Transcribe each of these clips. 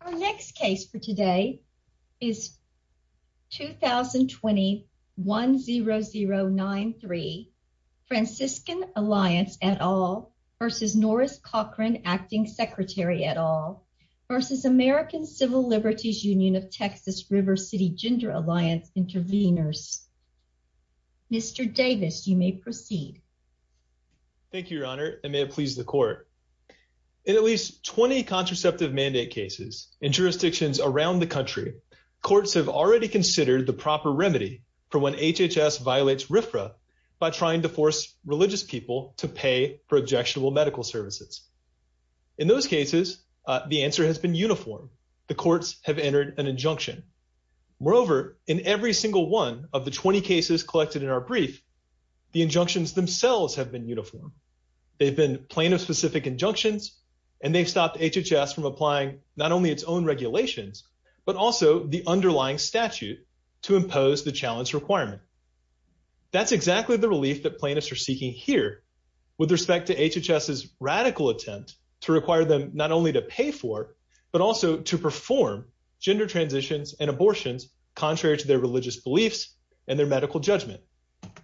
Our next case for today is 2020 10093 Franciscan Alliance et al. versus Norris Cochran, acting secretary et al. versus American Civil Liberties Union of Texas River City Gender Alliance intervenors. Mr. Davis, you may proceed. Thank you, Your Honor, and may it please the Court. In at least 20 contraceptive mandate cases in jurisdictions around the country, courts have already considered the proper remedy for when HHS violates RFRA by trying to force religious people to pay for objectionable medical services. In those cases, the answer has been uniform. The courts have entered an injunction. Moreover, in every single one of the 20 cases collected in our brief, the injunctions themselves have been uniform. They've been plaintiff-specific injunctions, and they've stopped HHS from applying not only its own regulations but also the underlying statute to impose the challenge requirement. That's exactly the relief that plaintiffs are seeking here with respect to HHS's radical attempt to require them not only to pay for but also to perform gender transitions and abortions contrary to their religious beliefs and their medical judgment.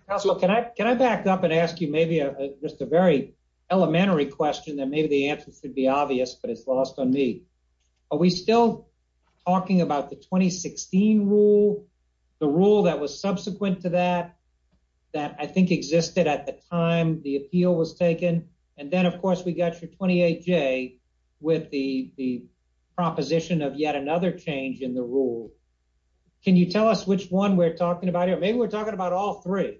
Counsel, can I back up and ask you maybe just a very elementary question that maybe the answer should be obvious, but it's lost on me. Are we still talking about the 2016 rule, the rule that was subsequent to that, that I think existed at the time the appeal was taken? And then, of course, we got your 28J with the proposition of yet another change in the rule. Can you tell us which one we're talking about here? Maybe we're talking about all three.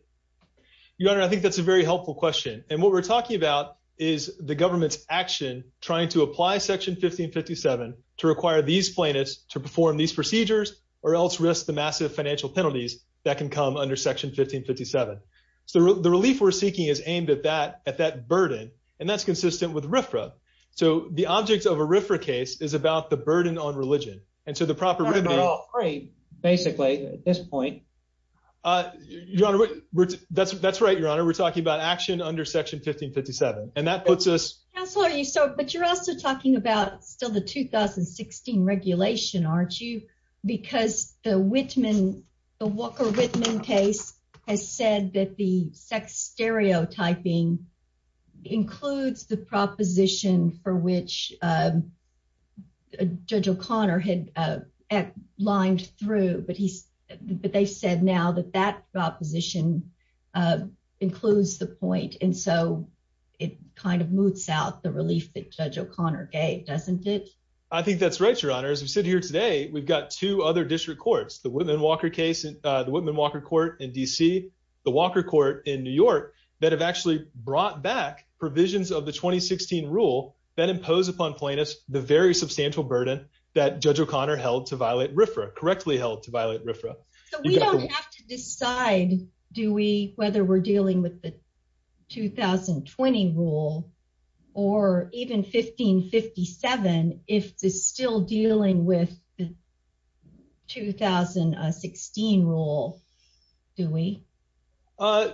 Your Honor, I think that's a very helpful question. And what we're talking about is the government's action trying to apply Section 1557 to require these plaintiffs to perform these procedures or else risk the massive financial penalties that can come under Section 1557. So the relief we're seeking is aimed at that burden, and that's consistent with RFRA. So the object of a RFRA case is about the burden on religion. And so the proper remedy— That's not all three, basically, at this point. Your Honor, that's right, Your Honor. We're talking about action under Section 1557. And that puts us— Counselor, but you're also talking about still the 2016 regulation, aren't you? Because the Whitman, the Walker-Whitman case has said that the sex stereotyping includes the proposition for which Judge O'Connor had lined through. But they said now that that proposition includes the point. And so it kind of moots out the relief that Judge O'Connor gave, doesn't it? I think that's right, Your Honor. As we sit here today, we've got two other district courts, the Whitman-Walker case, the Whitman-Walker court in D.C., the Walker court in New York, that have actually brought back provisions of the 2016 rule that impose upon plaintiffs the very substantial burden that Judge O'Connor held to violate RFRA, correctly held to violate RFRA. So we don't have to decide, do we, whether we're dealing with the 2020 rule or even 1557 if it's still dealing with the 2016 rule, do we? I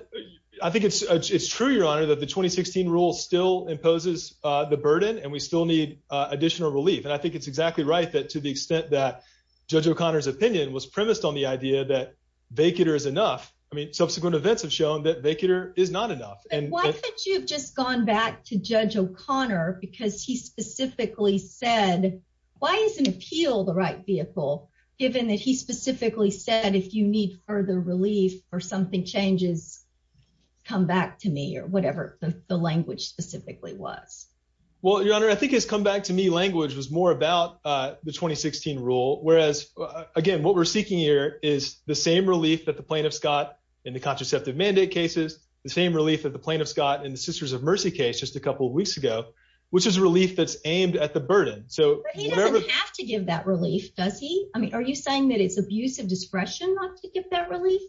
think it's true, Your Honor, that the 2016 rule still imposes the burden and we still need additional relief. And I think it's exactly right that to the extent that Judge O'Connor's opinion was premised on the idea that vacater is enough. I mean, subsequent events have shown that vacater is not enough. And why could you have just gone back to Judge O'Connor because he specifically said, why isn't appeal the right vehicle given that he specifically said, if you need further relief or something changes, come back to me or whatever the language specifically was? Well, Your Honor, I think his come back to me language was more about the 2016 rule. Whereas, again, what we're seeking here is the same relief that the plaintiff's got in the contraceptive mandate cases, the same relief that the plaintiff's got in the Sisters of Mercy case just a couple weeks ago, which is relief that's aimed at the burden. But he doesn't have to give that relief, does he? I mean, are you saying that it's abuse of discretion not to give that relief?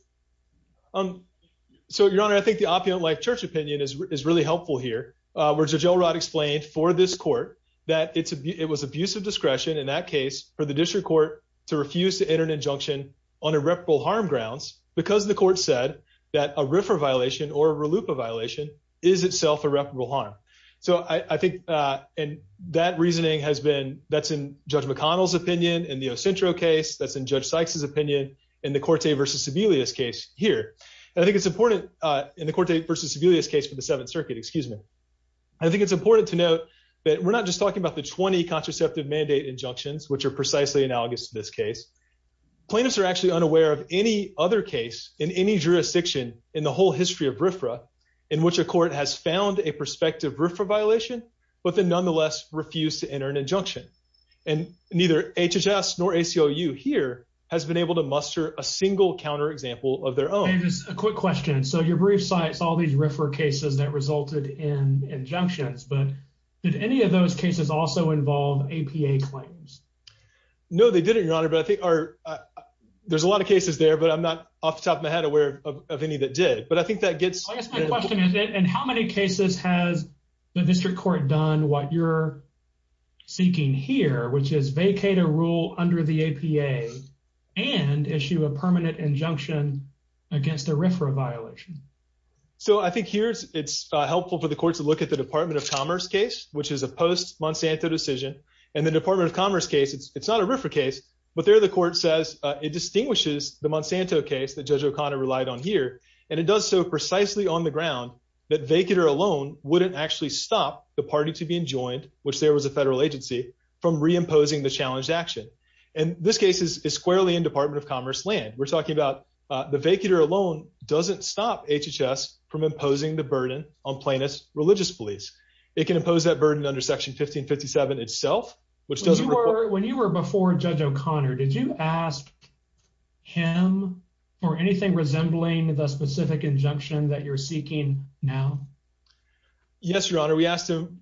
So, Your Honor, I think the opulent life church opinion is really helpful here, where Judge Elrod explained for this court that it was abuse of discretion in that case for the district court to refuse to enter an injunction on irreparable harm grounds because the court said that a RIFRA violation or a RLUIPA violation is itself irreparable harm. So, I think, and that reasoning has been, that's in Judge McConnell's opinion in the Ocentro case, that's in Judge Sykes' opinion in the Corte versus Sebelius case here. And I think it's important in the Corte versus Sebelius case for the Seventh Circuit, excuse me. I think it's important to note that we're not just talking about the 20 contraceptive mandate injunctions, which are precisely analogous to this case. Plaintiffs are actually unaware of any other case in any jurisdiction in the whole history of RIFRA in which a court has found a prospective RIFRA violation, but then nonetheless refused to enter an injunction. And neither HHS nor ACLU here has been able to muster a single counterexample of their own. Hey, just a quick question. So, your brief cites all these RIFRA cases that resulted in injunctions, but did any of those cases also involve APA claims? No, they didn't, Your Honor, but I think there's a lot of cases there, but I'm not off the top of my head aware of any that did. But I think that gets... I guess my question is, in how many cases has the District Court done what you're seeking here, which is vacate a rule under the APA and issue a permanent injunction against a RIFRA violation? So, I think here it's helpful for the Court to look at the Department of Commerce case, which is a post-Monsanto decision. And the Department of Commerce case, it's not a RIFRA case, but there the Court says it distinguishes the Monsanto case that Judge O'Connor relied on here, and it does so precisely on the ground that vacater alone wouldn't actually stop the party to be enjoined, which there was a federal agency, from reimposing the challenged action. And this case is squarely in Department of Commerce land. We're talking about the vacater alone doesn't stop HHS from imposing the burden on plaintiff's religious beliefs. It can impose that burden under Section 1557 itself, which doesn't... When you were before Judge O'Connor, did you ask him for anything resembling the specific injunction that you're seeking now? Yes, Your Honor. We asked him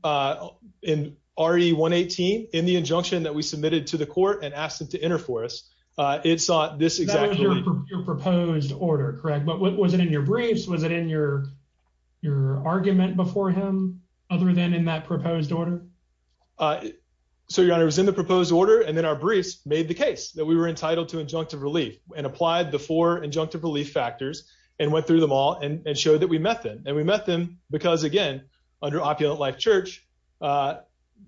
in RE-118, in the injunction that we submitted to the Court and asked him to enter for us, it sought this proposed order, correct? But was it in your briefs? Was it in your argument before him, other than in that proposed order? So, Your Honor, it was in the proposed order, and then our briefs made the case that we were entitled to injunctive relief and applied the four injunctive relief factors and went through them all and showed that we met them. And we met them because, again, under Opulent Life Church,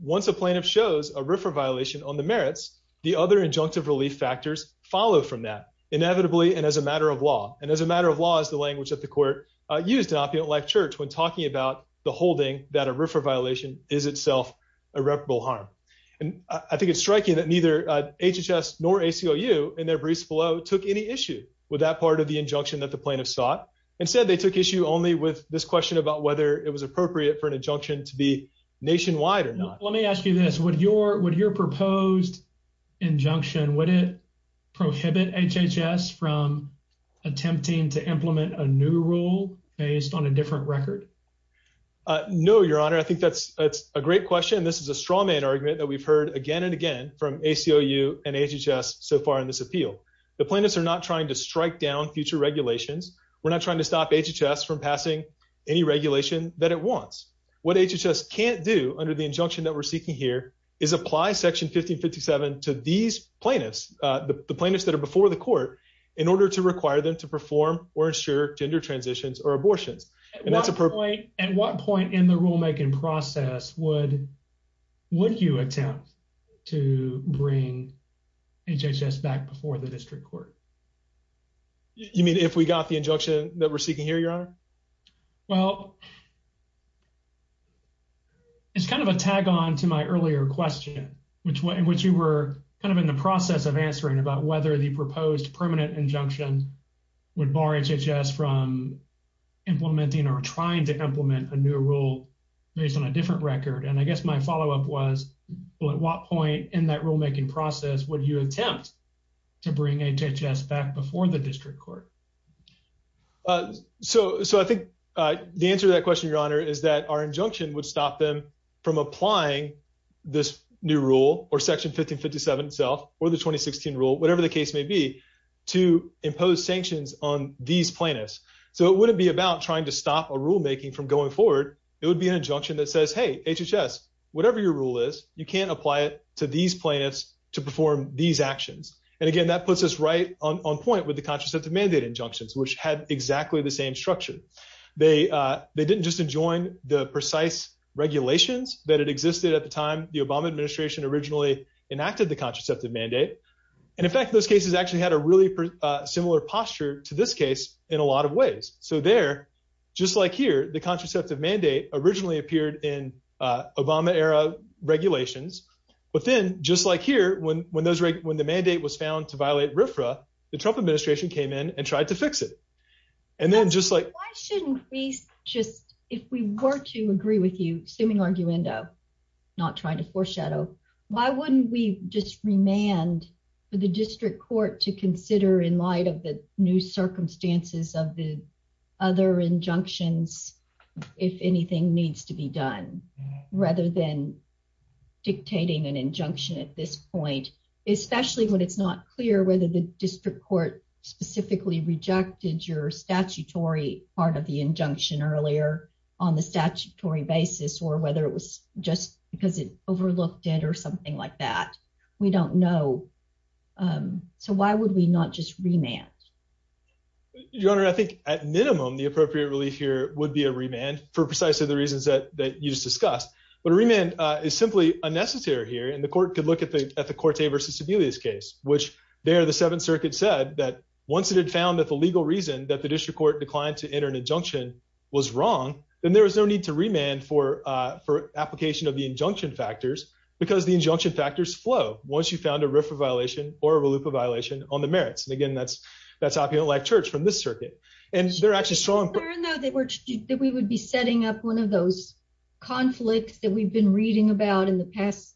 once a plaintiff shows a RIFRA violation on the merits, the other injunctive relief factors follow from that, inevitably and as a matter of law. And as a matter of law is the language that the Court used in Opulent Life Church when talking about the holding that a RIFRA violation is itself irreparable harm. And I think it's striking that neither HHS nor ACLU, in their briefs below, took any issue with that part of the injunction that the plaintiff sought. Instead, they took issue only with this question about whether it was appropriate for an injunction to be nationwide or not. Let me ask you this. Would your proposed injunction, would it prohibit HHS from attempting to implement a new rule based on a different record? No, Your Honor. I think that's a great question. This is a strawman argument that we've heard again and again from ACLU and HHS so far in this appeal. The plaintiffs are not trying to strike down future regulations. We're not trying to stop HHS from passing any regulation that it wants. What HHS can't do under the injunction that we're seeking here is apply Section 1557 to these plaintiffs, the plaintiffs that are before the Court, in order to require them to perform or ensure gender transitions or abortions. At what point in the rulemaking process would you attempt to bring HHS back before the District Court? You mean if we got the injunction that we're seeking here, Your Honor? Well, it's kind of a tag-on to my earlier question, in which you were kind of in the process of answering about whether the proposed permanent injunction would bar HHS from implementing or trying to implement a new rule based on a different record. I guess my follow-up was, at what point in that rulemaking process would you attempt to bring HHS back before the District Court? So I think the answer to that question, Your Honor, is that our injunction would stop them from applying this new rule, or Section 1557 itself, or the 2016 rule, whatever the case may be, to impose sanctions on these plaintiffs. So it wouldn't be about trying to stop a rulemaking from going forward. It would be an injunction that says, hey, HHS, whatever your rule is, you can't apply it to these plaintiffs to perform these actions. And again, that puts us right on with the contraceptive mandate injunctions, which had exactly the same structure. They didn't just enjoin the precise regulations that had existed at the time the Obama administration originally enacted the contraceptive mandate. And in fact, those cases actually had a really similar posture to this case in a lot of ways. So there, just like here, the contraceptive mandate originally appeared in Obama-era regulations. But then, just like here, when the mandate was found to violate RFRA, the Trump administration came in and tried to fix it. And then just like- Why shouldn't we just, if we were to agree with you, assuming arguendo, not trying to foreshadow, why wouldn't we just remand for the district court to consider in light of the new circumstances of the other injunctions, if anything needs to be done, rather than dictating an injunction at this point, especially when it's not clear whether the district court specifically rejected your statutory part of the injunction earlier on the statutory basis, or whether it was just because it overlooked it or something like that. We don't know. So why would we not just remand? Your Honor, I think at minimum, the appropriate relief here would be a remand for precisely the reasons that you just discussed. But a remand is simply unnecessary here, and the court could look at the Corte v. Sebelius case, which there, the Seventh Circuit said that once it had found that the legal reason that the district court declined to enter an injunction was wrong, then there was no need to remand for application of the injunction factors, because the injunction factors flow once you found a RFRA violation or a RLUPA violation on the merits. And again, that's opium-like church from this circuit. And they're actually strong- I didn't know that we would be setting up one of those conflicts that we've been reading about in the past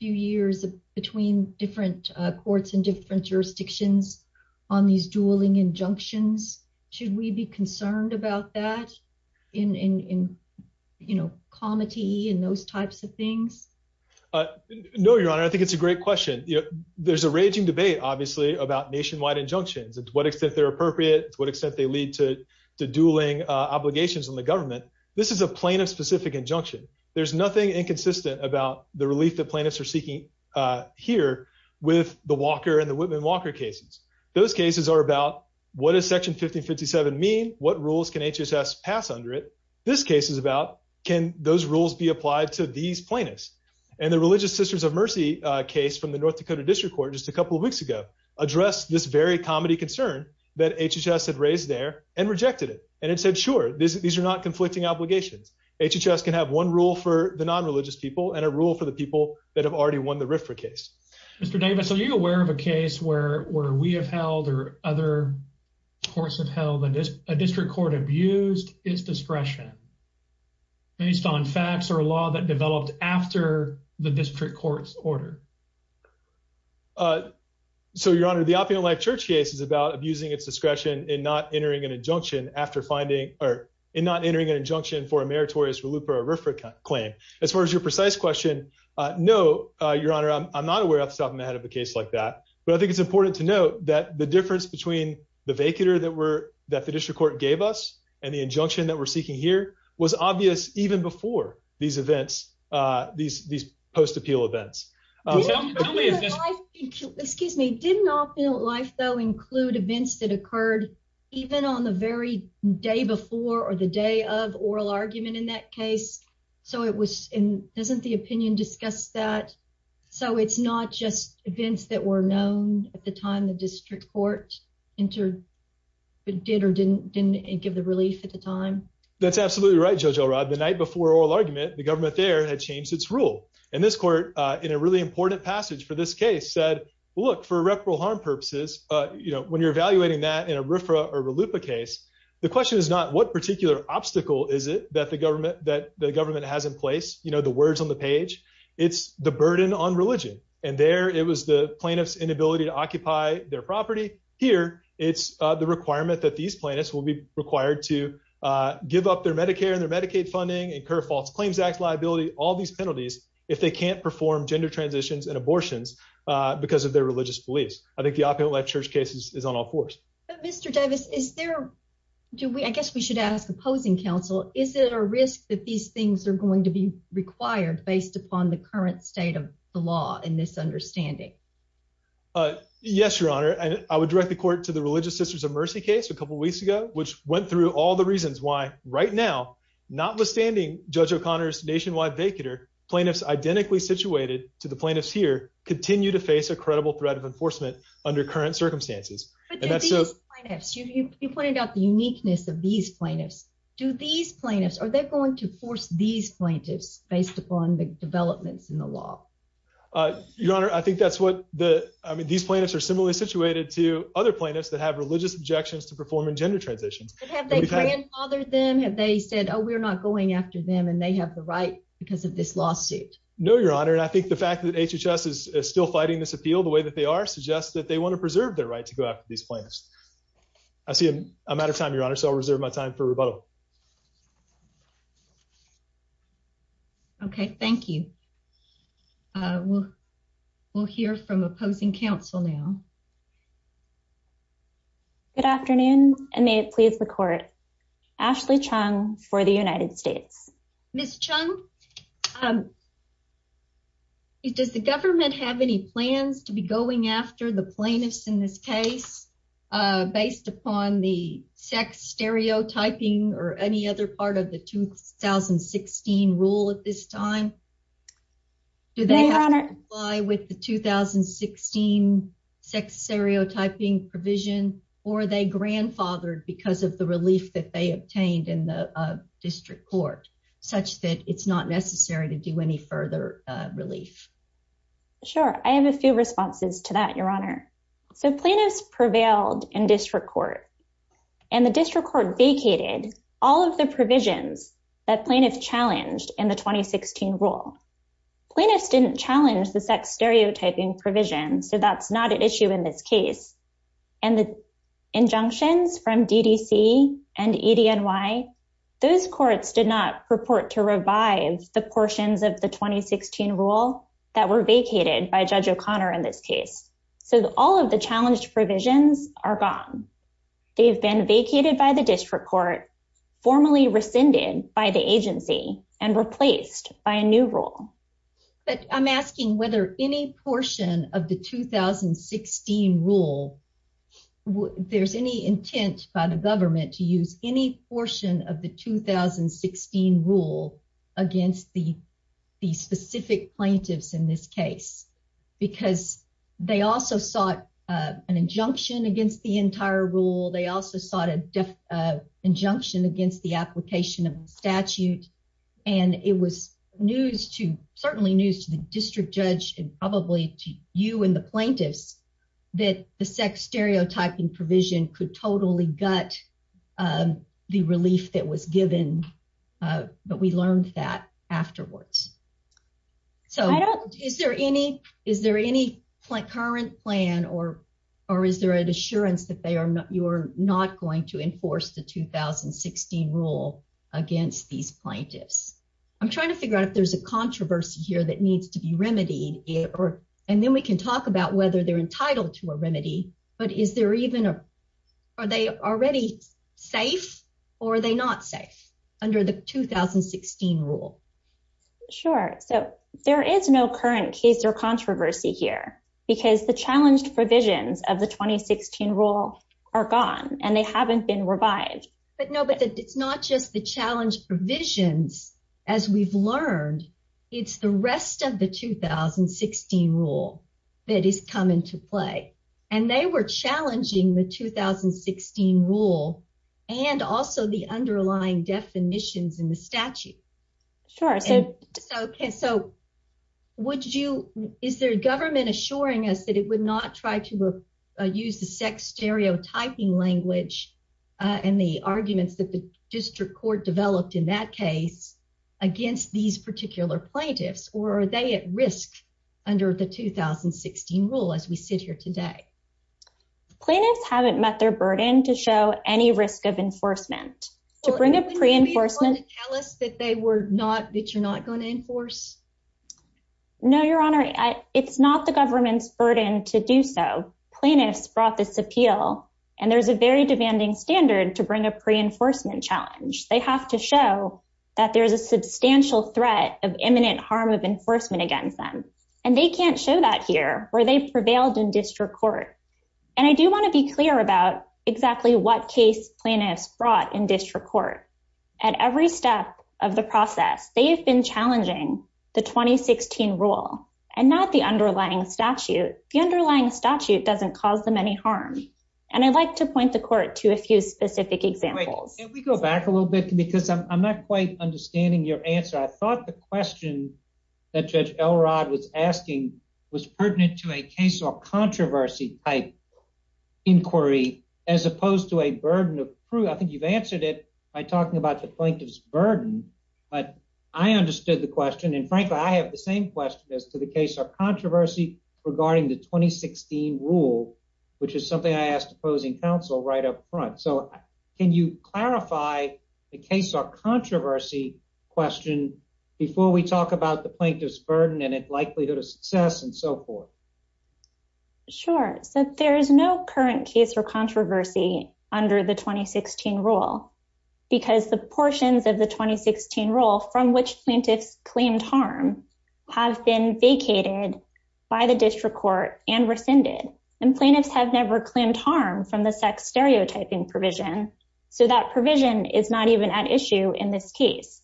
few years between different courts and different jurisdictions on these dueling injunctions. Should we be concerned about that in comity and those types of things? No, Your Honor. I think it's a great question. There's a raging debate, obviously, about nationwide injunctions, to what extent they're appropriate, to what extent they lead to dueling obligations on the government. This is a plaintiff specific injunction. There's nothing inconsistent about the relief that plaintiffs are seeking here with the Walker and the Whitman-Walker cases. Those cases are about, what does Section 1557 mean? What rules can HHS pass under it? This case is about, can those rules be applied to these plaintiffs? And the Religious Sisters of Mercy case from the North Dakota District Court just a couple of weeks ago addressed this very comity concern that HHS had raised there and rejected it. And it said, sure, these are not conflicting obligations. HHS can have one rule for the non-religious people and a rule for the people that have already won the RFRA case. Mr. Davis, are you aware of a case where we have held or other courts have held a district court abused its discretion based on facts or a law that developed after the district court's order? So, Your Honor, the Opium and Life Church case is about abusing its discretion in not entering an injunction for a meritorious reloop or RFRA claim. As far as your precise question, no, Your Honor, I'm not aware off the top of my head of a case like that. But I think it's important to note that the difference between the vacater that the district court gave us and the injunction that we're seeking here was obvious even before these events, these post-appeal events. Didn't Opium and Life, though, include events that occurred even on the very day before or the day of oral argument in that case? So it was, and doesn't the opinion discuss that? So it's not just events that were known at the time the district court entered, but did or didn't give the relief at the time? That's absolutely right, Judge Elrod. The night before oral argument, the government there had changed its rule. And this court, in a really important passage for this case, said, well, look, for irreparable harm purposes, when you're evaluating that in a RFRA or RELUPA case, the question is not what particular obstacle is it that the government has in place, the words on the page. It's the burden on religion. And there, it was the plaintiff's inability to occupy their property. Here, it's the requirement that these plaintiffs will be these penalties if they can't perform gender transitions and abortions because of their religious beliefs. I think the Opium and Life Church case is on all fours. Mr. Davis, is there, do we, I guess we should ask opposing counsel, is it a risk that these things are going to be required based upon the current state of the law in this understanding? Yes, Your Honor, and I would direct the court to the Religious Sisters of Mercy case a couple weeks ago, which plaintiffs identically situated to the plaintiffs here continue to face a credible threat of enforcement under current circumstances. But do these plaintiffs, you pointed out the uniqueness of these plaintiffs, do these plaintiffs, are they going to force these plaintiffs based upon the developments in the law? Your Honor, I think that's what the, I mean, these plaintiffs are similarly situated to other plaintiffs that have religious objections to performing gender transitions. But have they grandfathered them? Have they said, oh, we're not going after them and they have the right because of this lawsuit? No, Your Honor, and I think the fact that HHS is still fighting this appeal the way that they are suggests that they want to preserve their right to go after these plaintiffs. I see I'm out of time, Your Honor, so I'll reserve my time for rebuttal. Okay, thank you. We'll hear from opposing counsel now. Good afternoon, and may it please the court. Ashley Chung for the United States. Ms. Chung, does the government have any plans to be going after the plaintiffs in this case based upon the sex stereotyping or any other part of the 2016 rule at this time? Do they have to comply with the 2016 sex stereotyping provision, or are they grandfathered because of the relief that they obtained in the district court, such that it's not necessary to do any further relief? Sure, I have a few responses to that, Your Honor. So plaintiffs prevailed in district court, and the district court vacated all of the provisions that plaintiffs challenged in the 2016 rule. Plaintiffs didn't challenge the sex stereotyping provision, so that's not an issue in this case. And the injunctions from DDC and EDNY, those courts did not purport to revive the portions of the 2016 rule that were vacated by Judge O'Connor in this case. So all of the challenged provisions are gone. They've been vacated by the district court, formally rescinded by the agency, and replaced by a new rule. But I'm asking whether any portion of the 2016 rule, there's any intent by the government to use any portion of the 2016 rule against the specific plaintiffs in this case? Because they also sought an injunction against the entire rule. They also sought an injunction against the application of the statute. And it was news to, certainly news to the district judge, and probably to you and the plaintiffs, that the sex stereotyping provision could totally gut the relief that was given, but we learned that afterwards. So is there any current plan, or is there an assurance that you're not going to enforce the 2016 rule against these plaintiffs? I'm trying to figure out if there's a controversy here that needs to be remedied, and then we can talk about whether they're entitled to a remedy, but is there even a, are they already safe, or are they not safe under the 2016 rule? Sure. So there is no current case or controversy here, because the challenged provisions of the 2016 rule are gone, and they haven't been revived. But no, but it's not just the challenged provisions, as we've learned, it's the rest of the 2016 rule that is coming to play. And they were challenging the 2016 rule, and also the underlying definitions in the statute. Sure. So would you, is there a government assuring us that it would not try to use the sex stereotyping language and the arguments that the district court developed in that case against these particular plaintiffs, or are they at risk under the 2016 rule, as we sit here today? Plaintiffs haven't met their burden to show any risk of enforcement. To bring a pre-enforcement- Well, wouldn't you be able to tell us that they were not, that you're not going to enforce? No, Your Honor, it's not the government's burden to do so. Plaintiffs brought this appeal, and there's a very demanding standard to bring a pre-enforcement challenge. They have to show that there's a substantial threat of imminent harm of enforcement against them, and they can't show that here, where they prevailed in district court. And I do want to be clear about exactly what case plaintiffs brought in district court. At every step of the process, they have been challenging the 2016 rule and not the underlying statute. The underlying statute doesn't cause them any harm. And I'd like to point the court to a few specific examples. Can we go back a little bit, because I'm not quite understanding your answer. I thought the question that Judge Elrod was was pertinent to a case of controversy type inquiry, as opposed to a burden of proof. I think you've answered it by talking about the plaintiff's burden, but I understood the question. And frankly, I have the same question as to the case of controversy regarding the 2016 rule, which is something I asked opposing counsel right up front. So can you clarify the case of controversy question before we talk about the plaintiff's success and so forth? Sure. So there is no current case for controversy under the 2016 rule, because the portions of the 2016 rule from which plaintiffs claimed harm have been vacated by the district court and rescinded. And plaintiffs have never claimed harm from the sex stereotyping provision. So that provision is not even at issue in this case.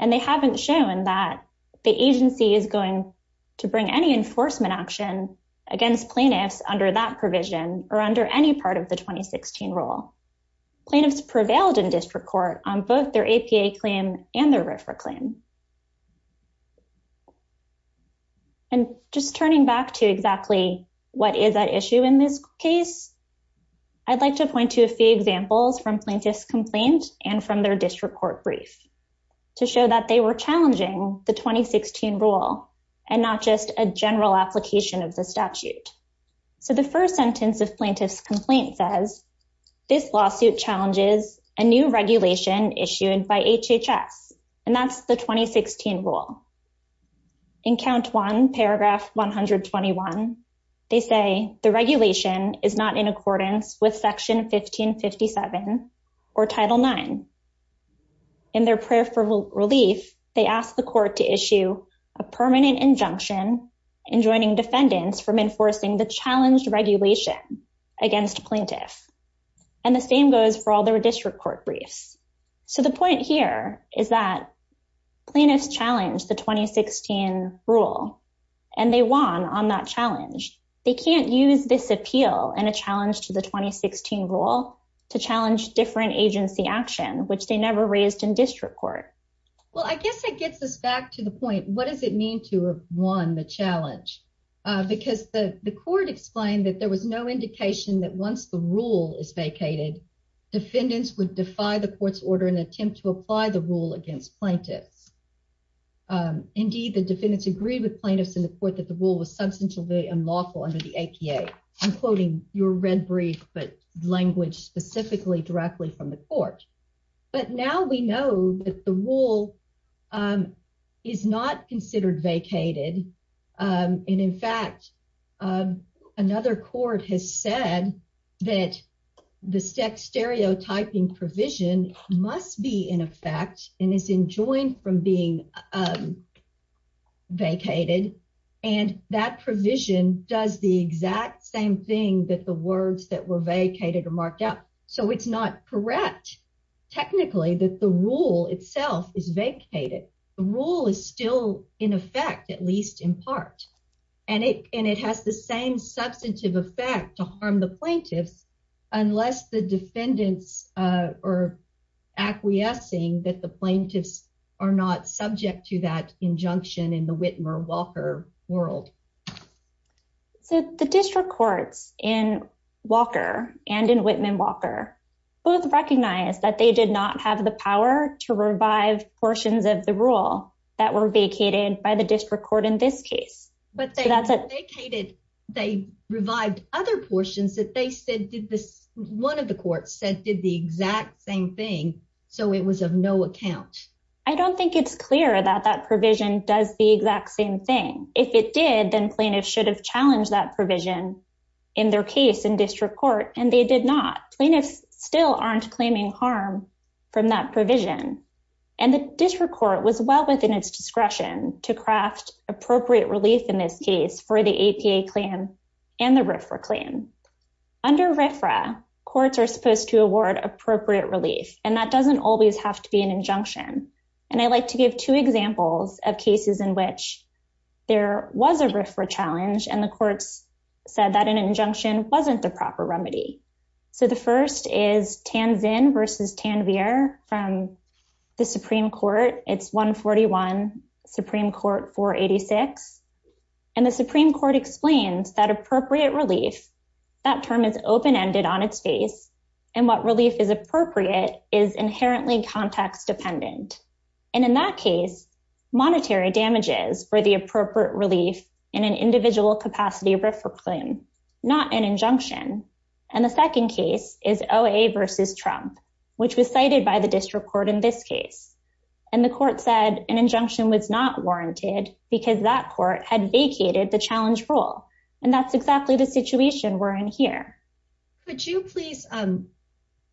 And they haven't shown that the agency is going to bring any enforcement action against plaintiffs under that provision or under any part of the 2016 rule. Plaintiffs prevailed in district court on both their APA claim and their RFRA claim. And just turning back to exactly what is at issue in this case, I'd like to point to a few examples from plaintiff's complaint and from their district court brief to show that they were challenging the 2016 rule and not just a general application of the statute. So the first sentence of plaintiff's complaint says, this lawsuit challenges a new regulation issued by HHS, and that's the 2016 rule. In count one, paragraph 121, they say the regulation is not in accordance with section 1557 or title nine. In their prayer for relief, they asked the court to issue a permanent injunction enjoining defendants from enforcing the challenged regulation against plaintiff. And the same goes for all their district court briefs. So the point here is that plaintiffs challenged the 2016 rule and they won on that challenge. They can't use this appeal and a challenge to the 2016 rule to challenge different agency action, which they never raised in district court. Well, I guess it gets us back to the point. What does it mean to have won the challenge? Because the court explained that there was no indication that once the rule is vacated, defendants would defy the court's order and attempt to apply the rule against plaintiffs. Indeed, the defendants agreed with plaintiffs in the court that the rule was substantially unlawful under the APA. I'm quoting your red brief, but language specifically directly from the court. But now we know that the rule is not considered vacated. And in fact, another court has said that the sex stereotyping provision must be in effect and is enjoined from the court. And that provision does the exact same thing that the words that were vacated are marked out. So it's not correct technically that the rule itself is vacated. The rule is still in effect, at least in part. And it has the same substantive effect to harm the plaintiffs unless the defendants are acquiescing that the plaintiffs are not subject to that injunction in the Whitmer-Walker world. So the district courts in Walker and in Whitman-Walker both recognize that they did not have the power to revive portions of the rule that were vacated by district court in this case. But they vacated, they revived other portions that they said did this. One of the courts said did the exact same thing. So it was of no account. I don't think it's clear that that provision does the exact same thing. If it did, then plaintiffs should have challenged that provision in their case in district court. And they did not. Plaintiffs still aren't claiming harm from that provision. And the district court was well within its to craft appropriate relief in this case for the APA claim and the RFRA claim. Under RFRA, courts are supposed to award appropriate relief. And that doesn't always have to be an injunction. And I like to give two examples of cases in which there was a RFRA challenge and the courts said that an injunction wasn't the proper remedy. So the first is Tanvin versus Tanvir from the Supreme Court. It's 141 Supreme Court 486. And the Supreme Court explains that appropriate relief, that term is open ended on its face. And what relief is appropriate is inherently context dependent. And in that case, monetary damages for the appropriate relief in an individual capacity RFRA claim, not an injunction. And the second case is OA versus Trump, which was by the district court in this case. And the court said an injunction was not warranted, because that court had vacated the challenge role. And that's exactly the situation we're in here. Could you please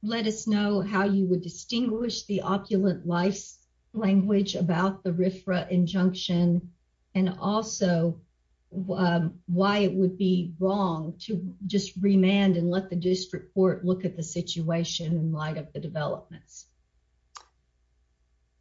let us know how you would distinguish the opulent lice language about the RFRA injunction, and also why it would be wrong to just remand and let the district court look at the situation in light of the developments?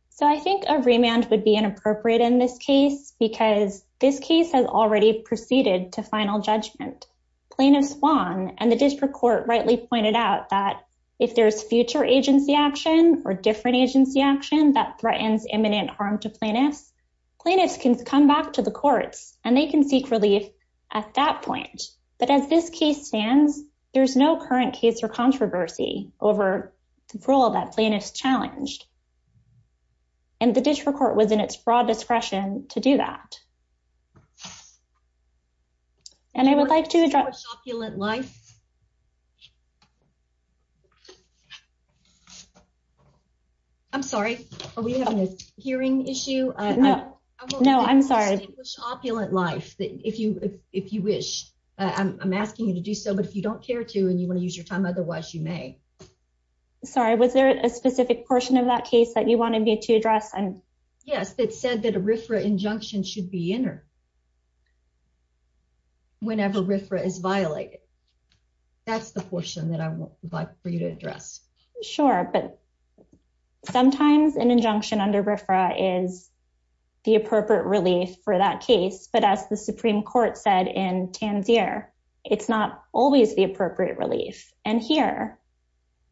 So I think a remand would be inappropriate in this case, because this case has already proceeded to final judgment. Plaintiffs won, and the district court rightly pointed out that if there's future agency action or different agency action that threatens imminent harm to plaintiffs, plaintiffs can come back to the courts, and they can seek relief at that point. But as this case stands, there's no current case or controversy over the rule that plaintiffs challenged. And the district court was in its broad discretion to do that. And I would like to address- Distinguish opulent lice? I'm sorry, are we having a hearing issue? No, I'm sorry. Distinguish opulent lice, if you wish. I'm asking you to do so, but if you don't care to, and you want to use your time, otherwise you may. Sorry, was there a specific portion of that case that you wanted me to address? Yes, it said that a RFRA injunction should be entered whenever RFRA is violated. That's the portion that I would like for you to address. Sure, but sometimes an injunction under RFRA is the appropriate relief for that case. But as the Supreme Court said in Tanzier, it's not always the appropriate relief. And here,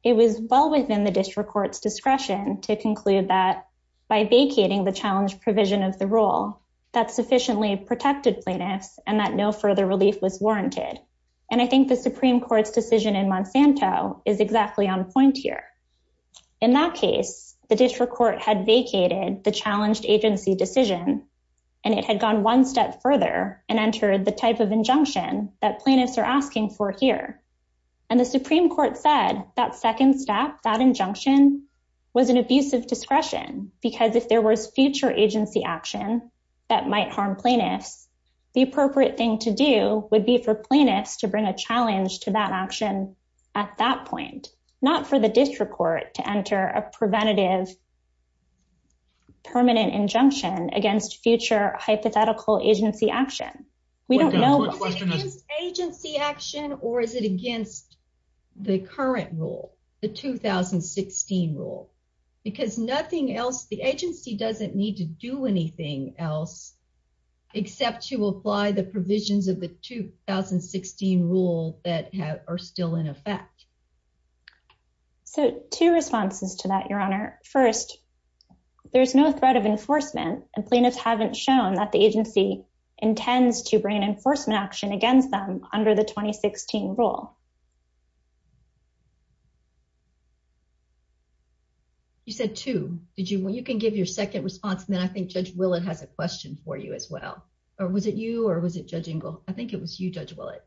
it was well within the district court's discretion to conclude that by vacating the challenge provision of the rule, that sufficiently protected plaintiffs and that no further relief was warranted. I think the Supreme Court's decision in Monsanto is exactly on point here. In that case, the district court had vacated the challenged agency decision, and it had gone one step further and entered the type of injunction that plaintiffs are asking for here. And the Supreme Court said that second step, that injunction, was an abusive discretion because if there was future agency action that might harm plaintiffs, the appropriate thing to do would be for plaintiffs to bring a challenge to that action at that point, not for the district court to enter a preventative permanent injunction against future hypothetical agency action. We don't know if it's agency action or is it against the current rule, the 2016 rule, because nothing else, the agency doesn't need to do anything else except to apply the provisions of the 2016 rule that are still in effect. So two responses to that, Your Honor. First, there's no threat of enforcement, and plaintiffs haven't shown that the agency intends to bring enforcement action against them under the 2016 rule. You said two. You can give your second response, and then I think Judge Willett has a question for you as well. Or was it you or was it Judge Ingle? I think it was you, Judge Willett.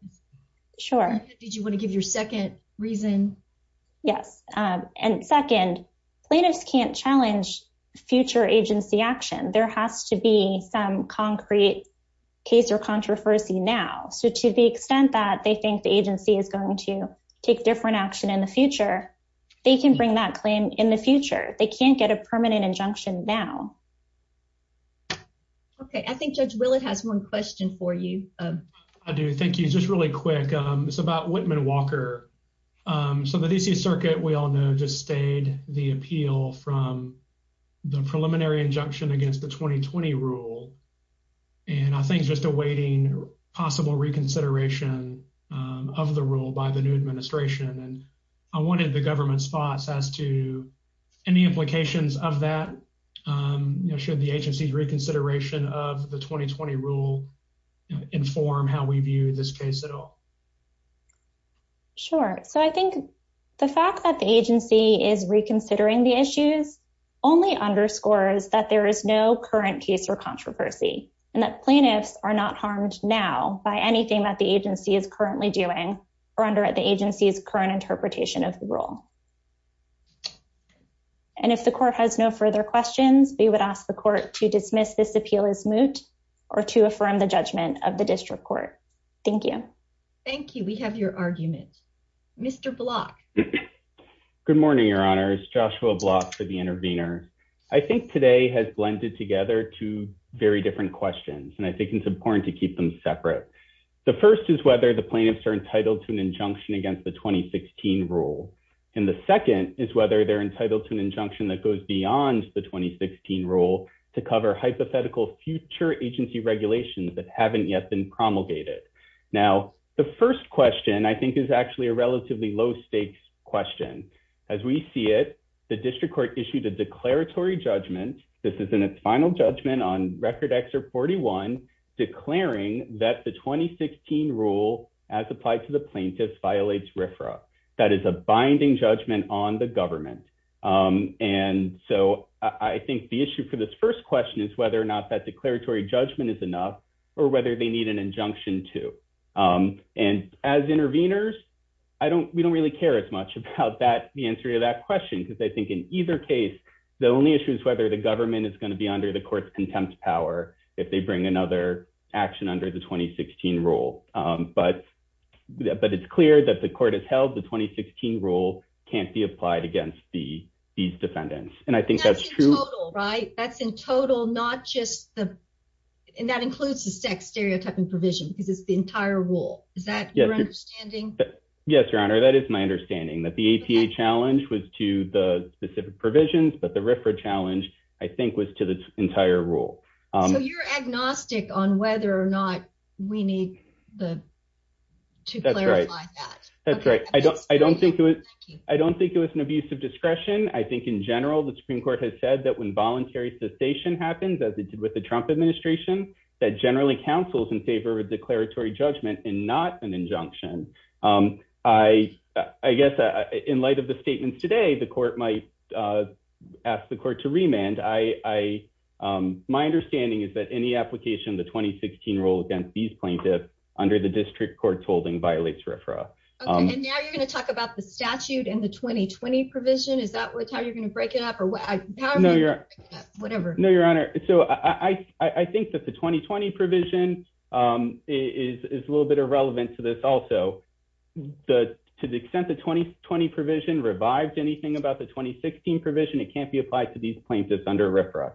Sure. Did you want to give your second reason? Yes. And second, plaintiffs can't challenge future agency action. There has to be some concrete case or controversy now. So to the extent that they think the agency is going to take different action in the future, they can bring that plan in the future. They can't get a permanent injunction now. Okay. I think Judge Willett has one question for you. I do. Thank you. Just really quick. It's about Whitman Walker. So the DC Circuit, we all know, just stayed the appeal from the preliminary injunction against the 2020 rule, and I think just awaiting possible reconsideration of the rule by the new administration. And I wanted the government's thoughts as to any implications of that. Should the agency's reconsideration of the 2020 rule inform how we view this case at all? Sure. So I think the fact that the agency is reconsidering the issues only underscores that there is no current case or controversy, and that plaintiffs are not harmed now by anything that the agency is currently doing or under the agency's current interpretation of the rule. And if the court has no further questions, we would ask the court to dismiss this appeal as moot or to affirm the judgment of the district court. Thank you. Thank you. We have your argument. Mr. Block. Good morning, Your Honors. Joshua Block for the intervener. I think today has blended together two very different questions, and I think it's important to keep them separate. The first is whether the plaintiffs are entitled to an injunction against the 2016 rule, and the second is whether they're entitled to an injunction that goes beyond the 2016 rule to cover hypothetical future agency regulations that haven't yet been promulgated. Now, the first question I think is actually a relatively low stakes question. As we see it, the district court issued a declaratory judgment. This is in its final judgment on Record Excerpt 41 declaring that the 2016 rule, as applied to the plaintiffs, violates RFRA. That is a binding judgment on the government. And so I think the issue for this first question is whether or not that declaratory judgment is enough or whether they need an injunction to. And as interveners, I don't, we don't really care as much about that, the answer to that question, because I think in either case, the only issue is whether the government is going to be under the court's power if they bring another action under the 2016 rule. But it's clear that the court has held the 2016 rule can't be applied against these defendants. And I think that's true. That's in total, right? That's in total, not just the, and that includes the sex stereotyping provision, because it's the entire rule. Is that your understanding? Yes, Your Honor, that is my understanding, that the APA challenge was to the specific provisions, but the RFRA challenge, I think, was to the entire rule. So you're agnostic on whether or not we need the, to clarify that. That's right. I don't, I don't think it was, I don't think it was an abuse of discretion. I think in general, the Supreme Court has said that when voluntary cessation happens, as it did with the Trump administration, that generally counsels in favor of a declaratory judgment and not an ask the court to remand. I, my understanding is that any application of the 2016 rule against these plaintiffs under the district court's holding violates RFRA. Okay. And now you're going to talk about the statute and the 2020 provision. Is that what, how you're going to break it up or whatever? No, Your Honor. So I, I, I think that the 2020 provision is, is a little bit irrelevant to this also. The, to the extent the 2020 provision revived anything about the 2016 provision, it can't be applied to these plaintiffs under RFRA.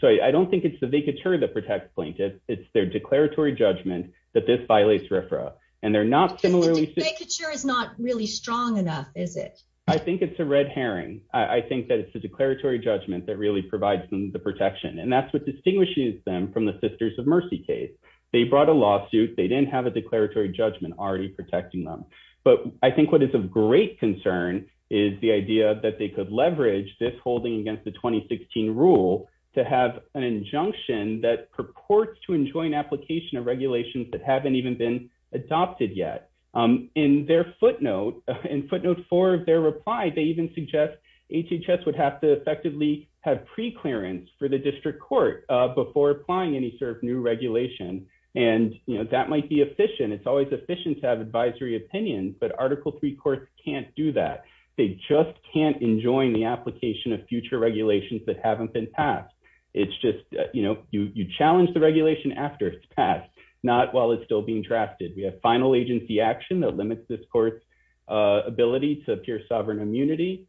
So I don't think it's the vacatur that protects plaintiffs. It's their declaratory judgment that this violates RFRA. And they're not similarly. The vacatur is not really strong enough, is it? I think it's a red herring. I think that it's the declaratory judgment that really provides them the protection and that's what distinguishes them from the sisters of mercy case. They brought a lawsuit. They didn't have a declaratory judgment already protecting them. But I think what is of great concern is the idea that they could leverage this holding against the 2016 rule to have an injunction that purports to enjoin application of regulations that haven't even been adopted yet. In their footnote, in footnote four of their reply, they even suggest HHS would have to effectively have pre-clearance for the district court before applying any sort of new regulation. And, you know, that might be efficient. It's always efficient to have advisory opinions, but article three courts can't do that. They just can't enjoin the application of future regulations that haven't been passed. It's just, you know, you challenge the regulation after it's passed, not while it's still being drafted. We have final agency action that limits this court's ability to appear sovereign immunity.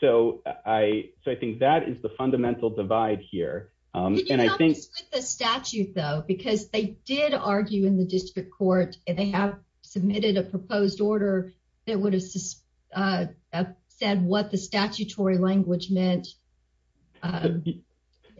So I think that is the fundamental divide here. And I think the statute though, because they did argue in the district court and they have submitted a proposed order that would have said what the statutory language meant.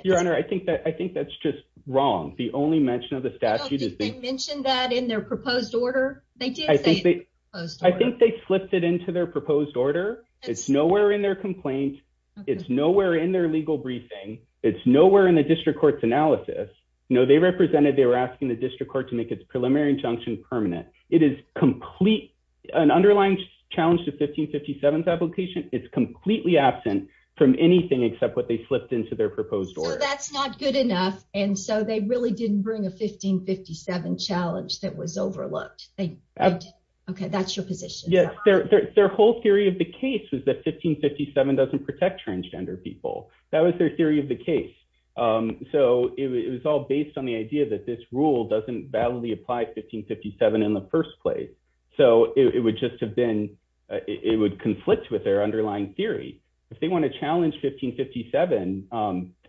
Your Honor, I think that's just wrong. The only mention of the statute is they mentioned that in their proposed order. I think they slipped it into their proposed order. It's nowhere in their complaint. It's nowhere in their legal briefing. It's nowhere in the district court's analysis. No, they represented, they were asking the district court to make its preliminary injunction permanent. It is complete, an underlying challenge to 1557's application. It's completely absent from anything except what they slipped into their proposed order. So that's not good enough. And so they really didn't bring a 1557 challenge that was overlooked. Okay. That's your position. Yes. Their whole theory of the case was that 1557 doesn't protect transgender people. That was their theory of the case. So it was all based on the idea that this rule doesn't validly apply to 1557 in the first place. So it would conflict with their underlying theory. If they want to challenge 1557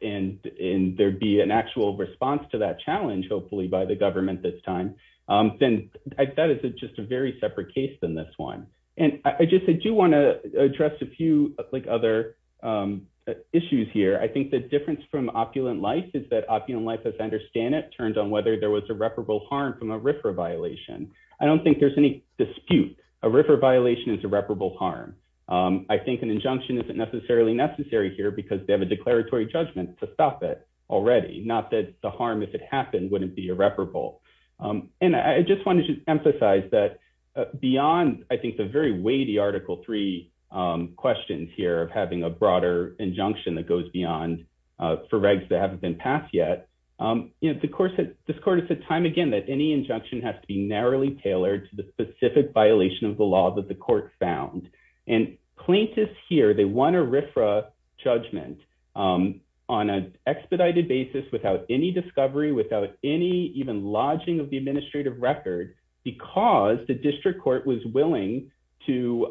and there'd be an actual response to that challenge, hopefully by the government this time, then that is just a very separate case than this one. And I just do want to address a few other issues here. I think the difference from opulent life is that opulent life, as I understand it, turns on whether there was irreparable harm from a RFRA violation. I don't think there's any dispute. A RFRA violation is irreparable harm. I think an injunction isn't necessarily necessary here because they have a declaratory judgment to stop it already. Not that the harm, if it happened, wouldn't be irreparable. And I just wanted to emphasize that beyond, I think, the very weighty Article III questions here of having a broader injunction that goes beyond for regs that haven't been passed yet, this court has said time again that any injunction has to be narrowly tailored to the specific violation of the law that the court found. And plaintiffs here, they won a RFRA judgment on an expedited basis without any discovery, without any even lodging of the administrative record, because the district court was willing to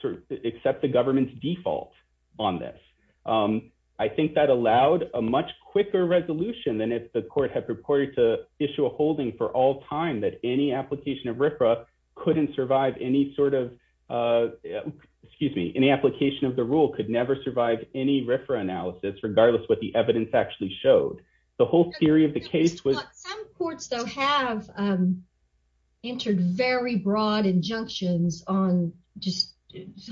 sort of accept the government's default on this. I think that allowed a much quicker resolution than if the court had purported to issue a holding for all time that any application of RFRA couldn't survive any sort of, excuse me, any application of the rule could never survive any RFRA analysis, regardless what the evidence actually showed. The whole theory of the case was... on just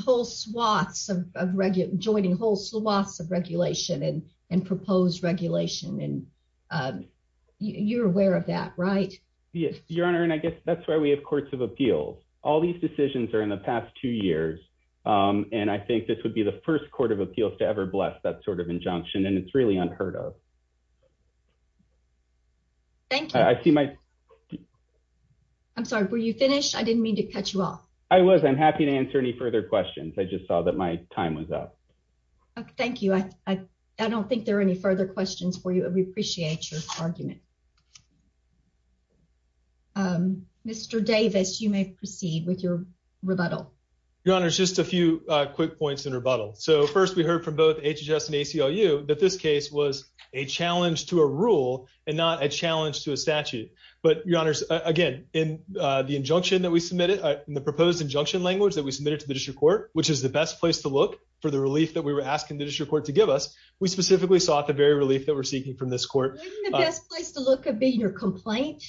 whole swaths of regular, joining whole swaths of regulation and proposed regulation, and you're aware of that, right? Yes, Your Honor, and I guess that's why we have courts of appeals. All these decisions are in the past two years, and I think this would be the first court of appeals to ever bless that sort of injunction, and it's really unheard of. Thank you. I see my... I'm sorry, were you finished? I didn't mean to cut you off. I was. I'm happy to answer any further questions. I just saw that my time was up. Thank you. I don't think there are any further questions for you. We appreciate your argument. Mr. Davis, you may proceed with your rebuttal. Your Honor, just a few quick points in rebuttal. So first, we heard from both HHS and a rule and not a challenge to a statute, but Your Honor, again, in the injunction that we submitted, in the proposed injunction language that we submitted to the district court, which is the best place to look for the relief that we were asking the district court to give us, we specifically sought the very relief that we're seeking from this court. Isn't the best place to look could be your complaint,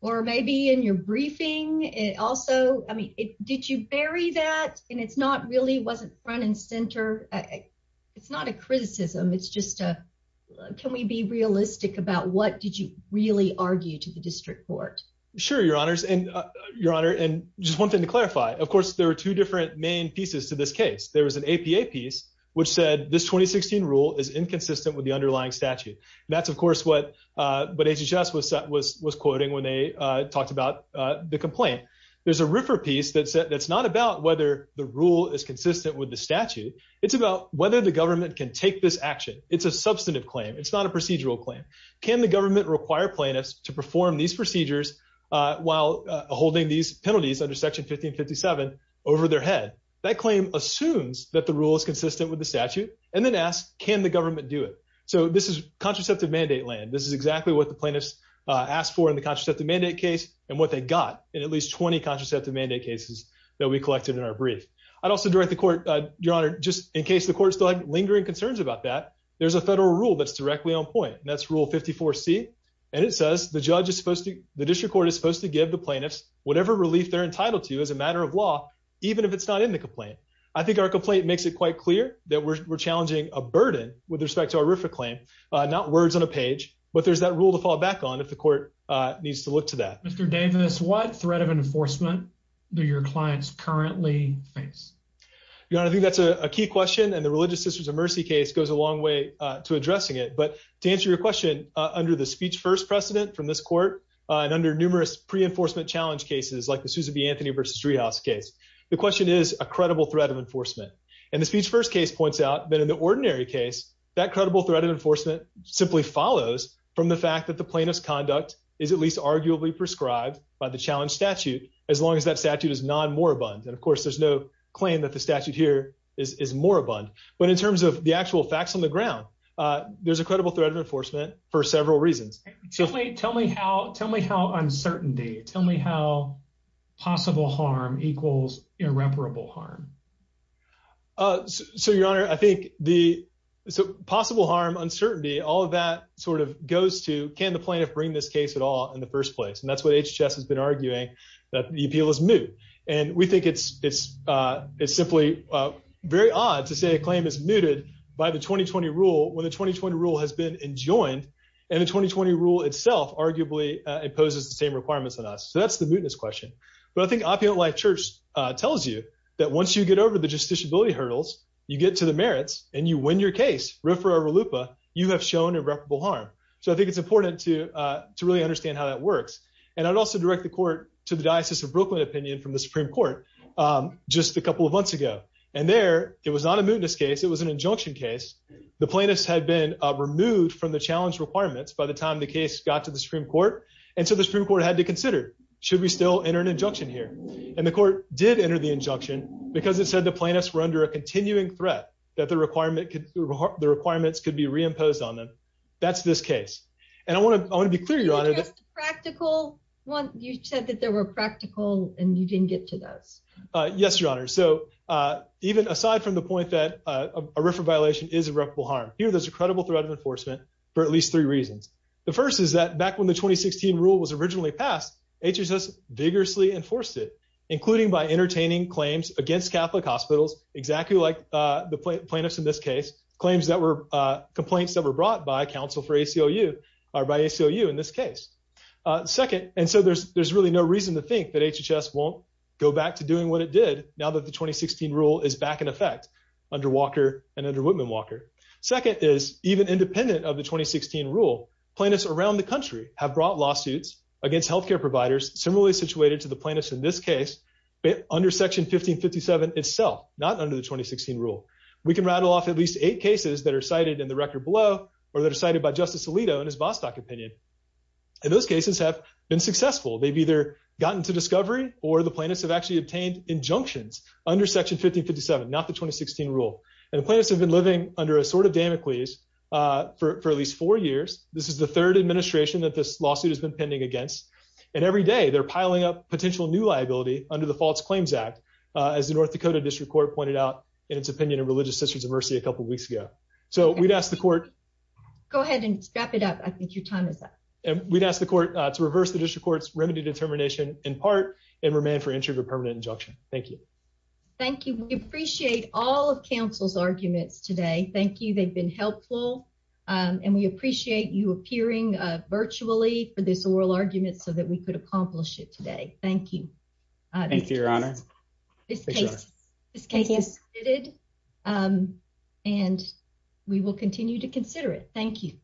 or maybe in your briefing. Also, I mean, did you bury that? And it's not really... wasn't front and center. It's not a criticism. It's just, can we be realistic about what did you really argue to the district court? Sure, Your Honors. And Your Honor, and just one thing to clarify, of course, there are two different main pieces to this case. There was an APA piece, which said this 2016 rule is inconsistent with the underlying statute. And that's, of course, what HHS was quoting when they talked about the complaint. There's a RFRA piece that's not about whether the rule is consistent with the It's a substantive claim. It's not a procedural claim. Can the government require plaintiffs to perform these procedures while holding these penalties under Section 1557 over their head? That claim assumes that the rule is consistent with the statute, and then ask, can the government do it? So this is contraceptive mandate land. This is exactly what the plaintiffs asked for in the contraceptive mandate case and what they got in at least 20 contraceptive mandate cases that we collected in our brief. I'd also direct the court, Your Honor, just in case the court still had there's a federal rule that's directly on point. That's Rule 54C. And it says the judge is supposed to, the district court is supposed to give the plaintiffs whatever relief they're entitled to as a matter of law, even if it's not in the complaint. I think our complaint makes it quite clear that we're challenging a burden with respect to our RFRA claim, not words on a page, but there's that rule to fall back on if the court needs to look to that. Mr. Davis, what threat of enforcement do your clients currently face? Your Honor, I think that's a key question. And the Religious Sisters of Mercy case goes a long way to addressing it. But to answer your question, under the speech first precedent from this court and under numerous pre-enforcement challenge cases like the Susan B. Anthony v. Street House case, the question is a credible threat of enforcement. And the speech first case points out that in the ordinary case, that credible threat of enforcement simply follows from the fact that the plaintiff's conduct is at least arguably prescribed by the challenge statute, as long as that statute is non-moribund. And of course, there's no claim that the statute here is moribund. But in terms of the actual facts on the ground, there's a credible threat of enforcement for several reasons. Tell me how uncertainty, tell me how possible harm equals irreparable harm. So, Your Honor, I think the possible harm, uncertainty, all of that sort of goes to, can the plaintiff bring this case at all in the first place? And that's what HHS has been arguing, that the appeal is moot. And we think it's simply very odd to say a claim is mooted by the 2020 rule when the 2020 rule has been enjoined, and the 2020 rule itself arguably imposes the same requirements on us. So that's the mootness question. But I think Opium at Life Church tells you that once you get over the justiciability hurdles, you get to the merits and you win your case, riffraff or lupa, you have shown irreparable harm. So I think it's And I'd also direct the court to the Diocese of Brooklyn opinion from the Supreme Court just a couple of months ago. And there, it was not a mootness case, it was an injunction case. The plaintiffs had been removed from the challenge requirements by the time the case got to the Supreme Court. And so the Supreme Court had to consider, should we still enter an injunction here? And the court did enter the injunction because it said the plaintiffs were under a continuing threat that the requirements could be reimposed on them. That's this case. And I want to, I want to be clear, your honor, practical one, you said that there were practical and you didn't get to those. Yes, your honor. So even aside from the point that a riffraff violation is irreparable harm here, there's a credible threat of enforcement for at least three reasons. The first is that back when the 2016 rule was originally passed, HHS vigorously enforced it, including by entertaining claims against Catholic hospitals, exactly like the plaintiffs in this case. Claims that were complaints that were brought by counsel for ACLU are by ACLU in this case. Second, and so there's, there's really no reason to think that HHS won't go back to doing what it did now that the 2016 rule is back in effect under Walker and under Whitman Walker. Second is even independent of the 2016 rule, plaintiffs around the country have brought lawsuits against healthcare providers, similarly situated to the plaintiffs in this case, under section 1557 itself, not under the 2016 rule. We can rattle off at least eight cases that are cited in the record below, or that are cited by justice Alito and his Bostock opinion. And those cases have been successful. They've either gotten to discovery or the plaintiffs have actually obtained injunctions under section 1557, not the 2016 rule. And the plaintiffs have been living under a sort of Damocles for at least four years. This is the third administration that this lawsuit has been pending against. And every day they're piling up potential new liability under the faults claims act as the North Dakota district court pointed out in its opinion of religious sisters of mercy a couple of weeks ago. So we'd ask the court. Go ahead and strap it up. I think your time is up. And we'd ask the court to reverse the district court's remedy determination in part and remain for entry of a permanent injunction. Thank you. Thank you. We appreciate all of council's arguments today. Thank you. They've been helpful. And we appreciate you appearing virtually for this oral argument so that we could accomplish it today. Thank you. Thank you, Your Honor. And we will continue to consider it. Thank you.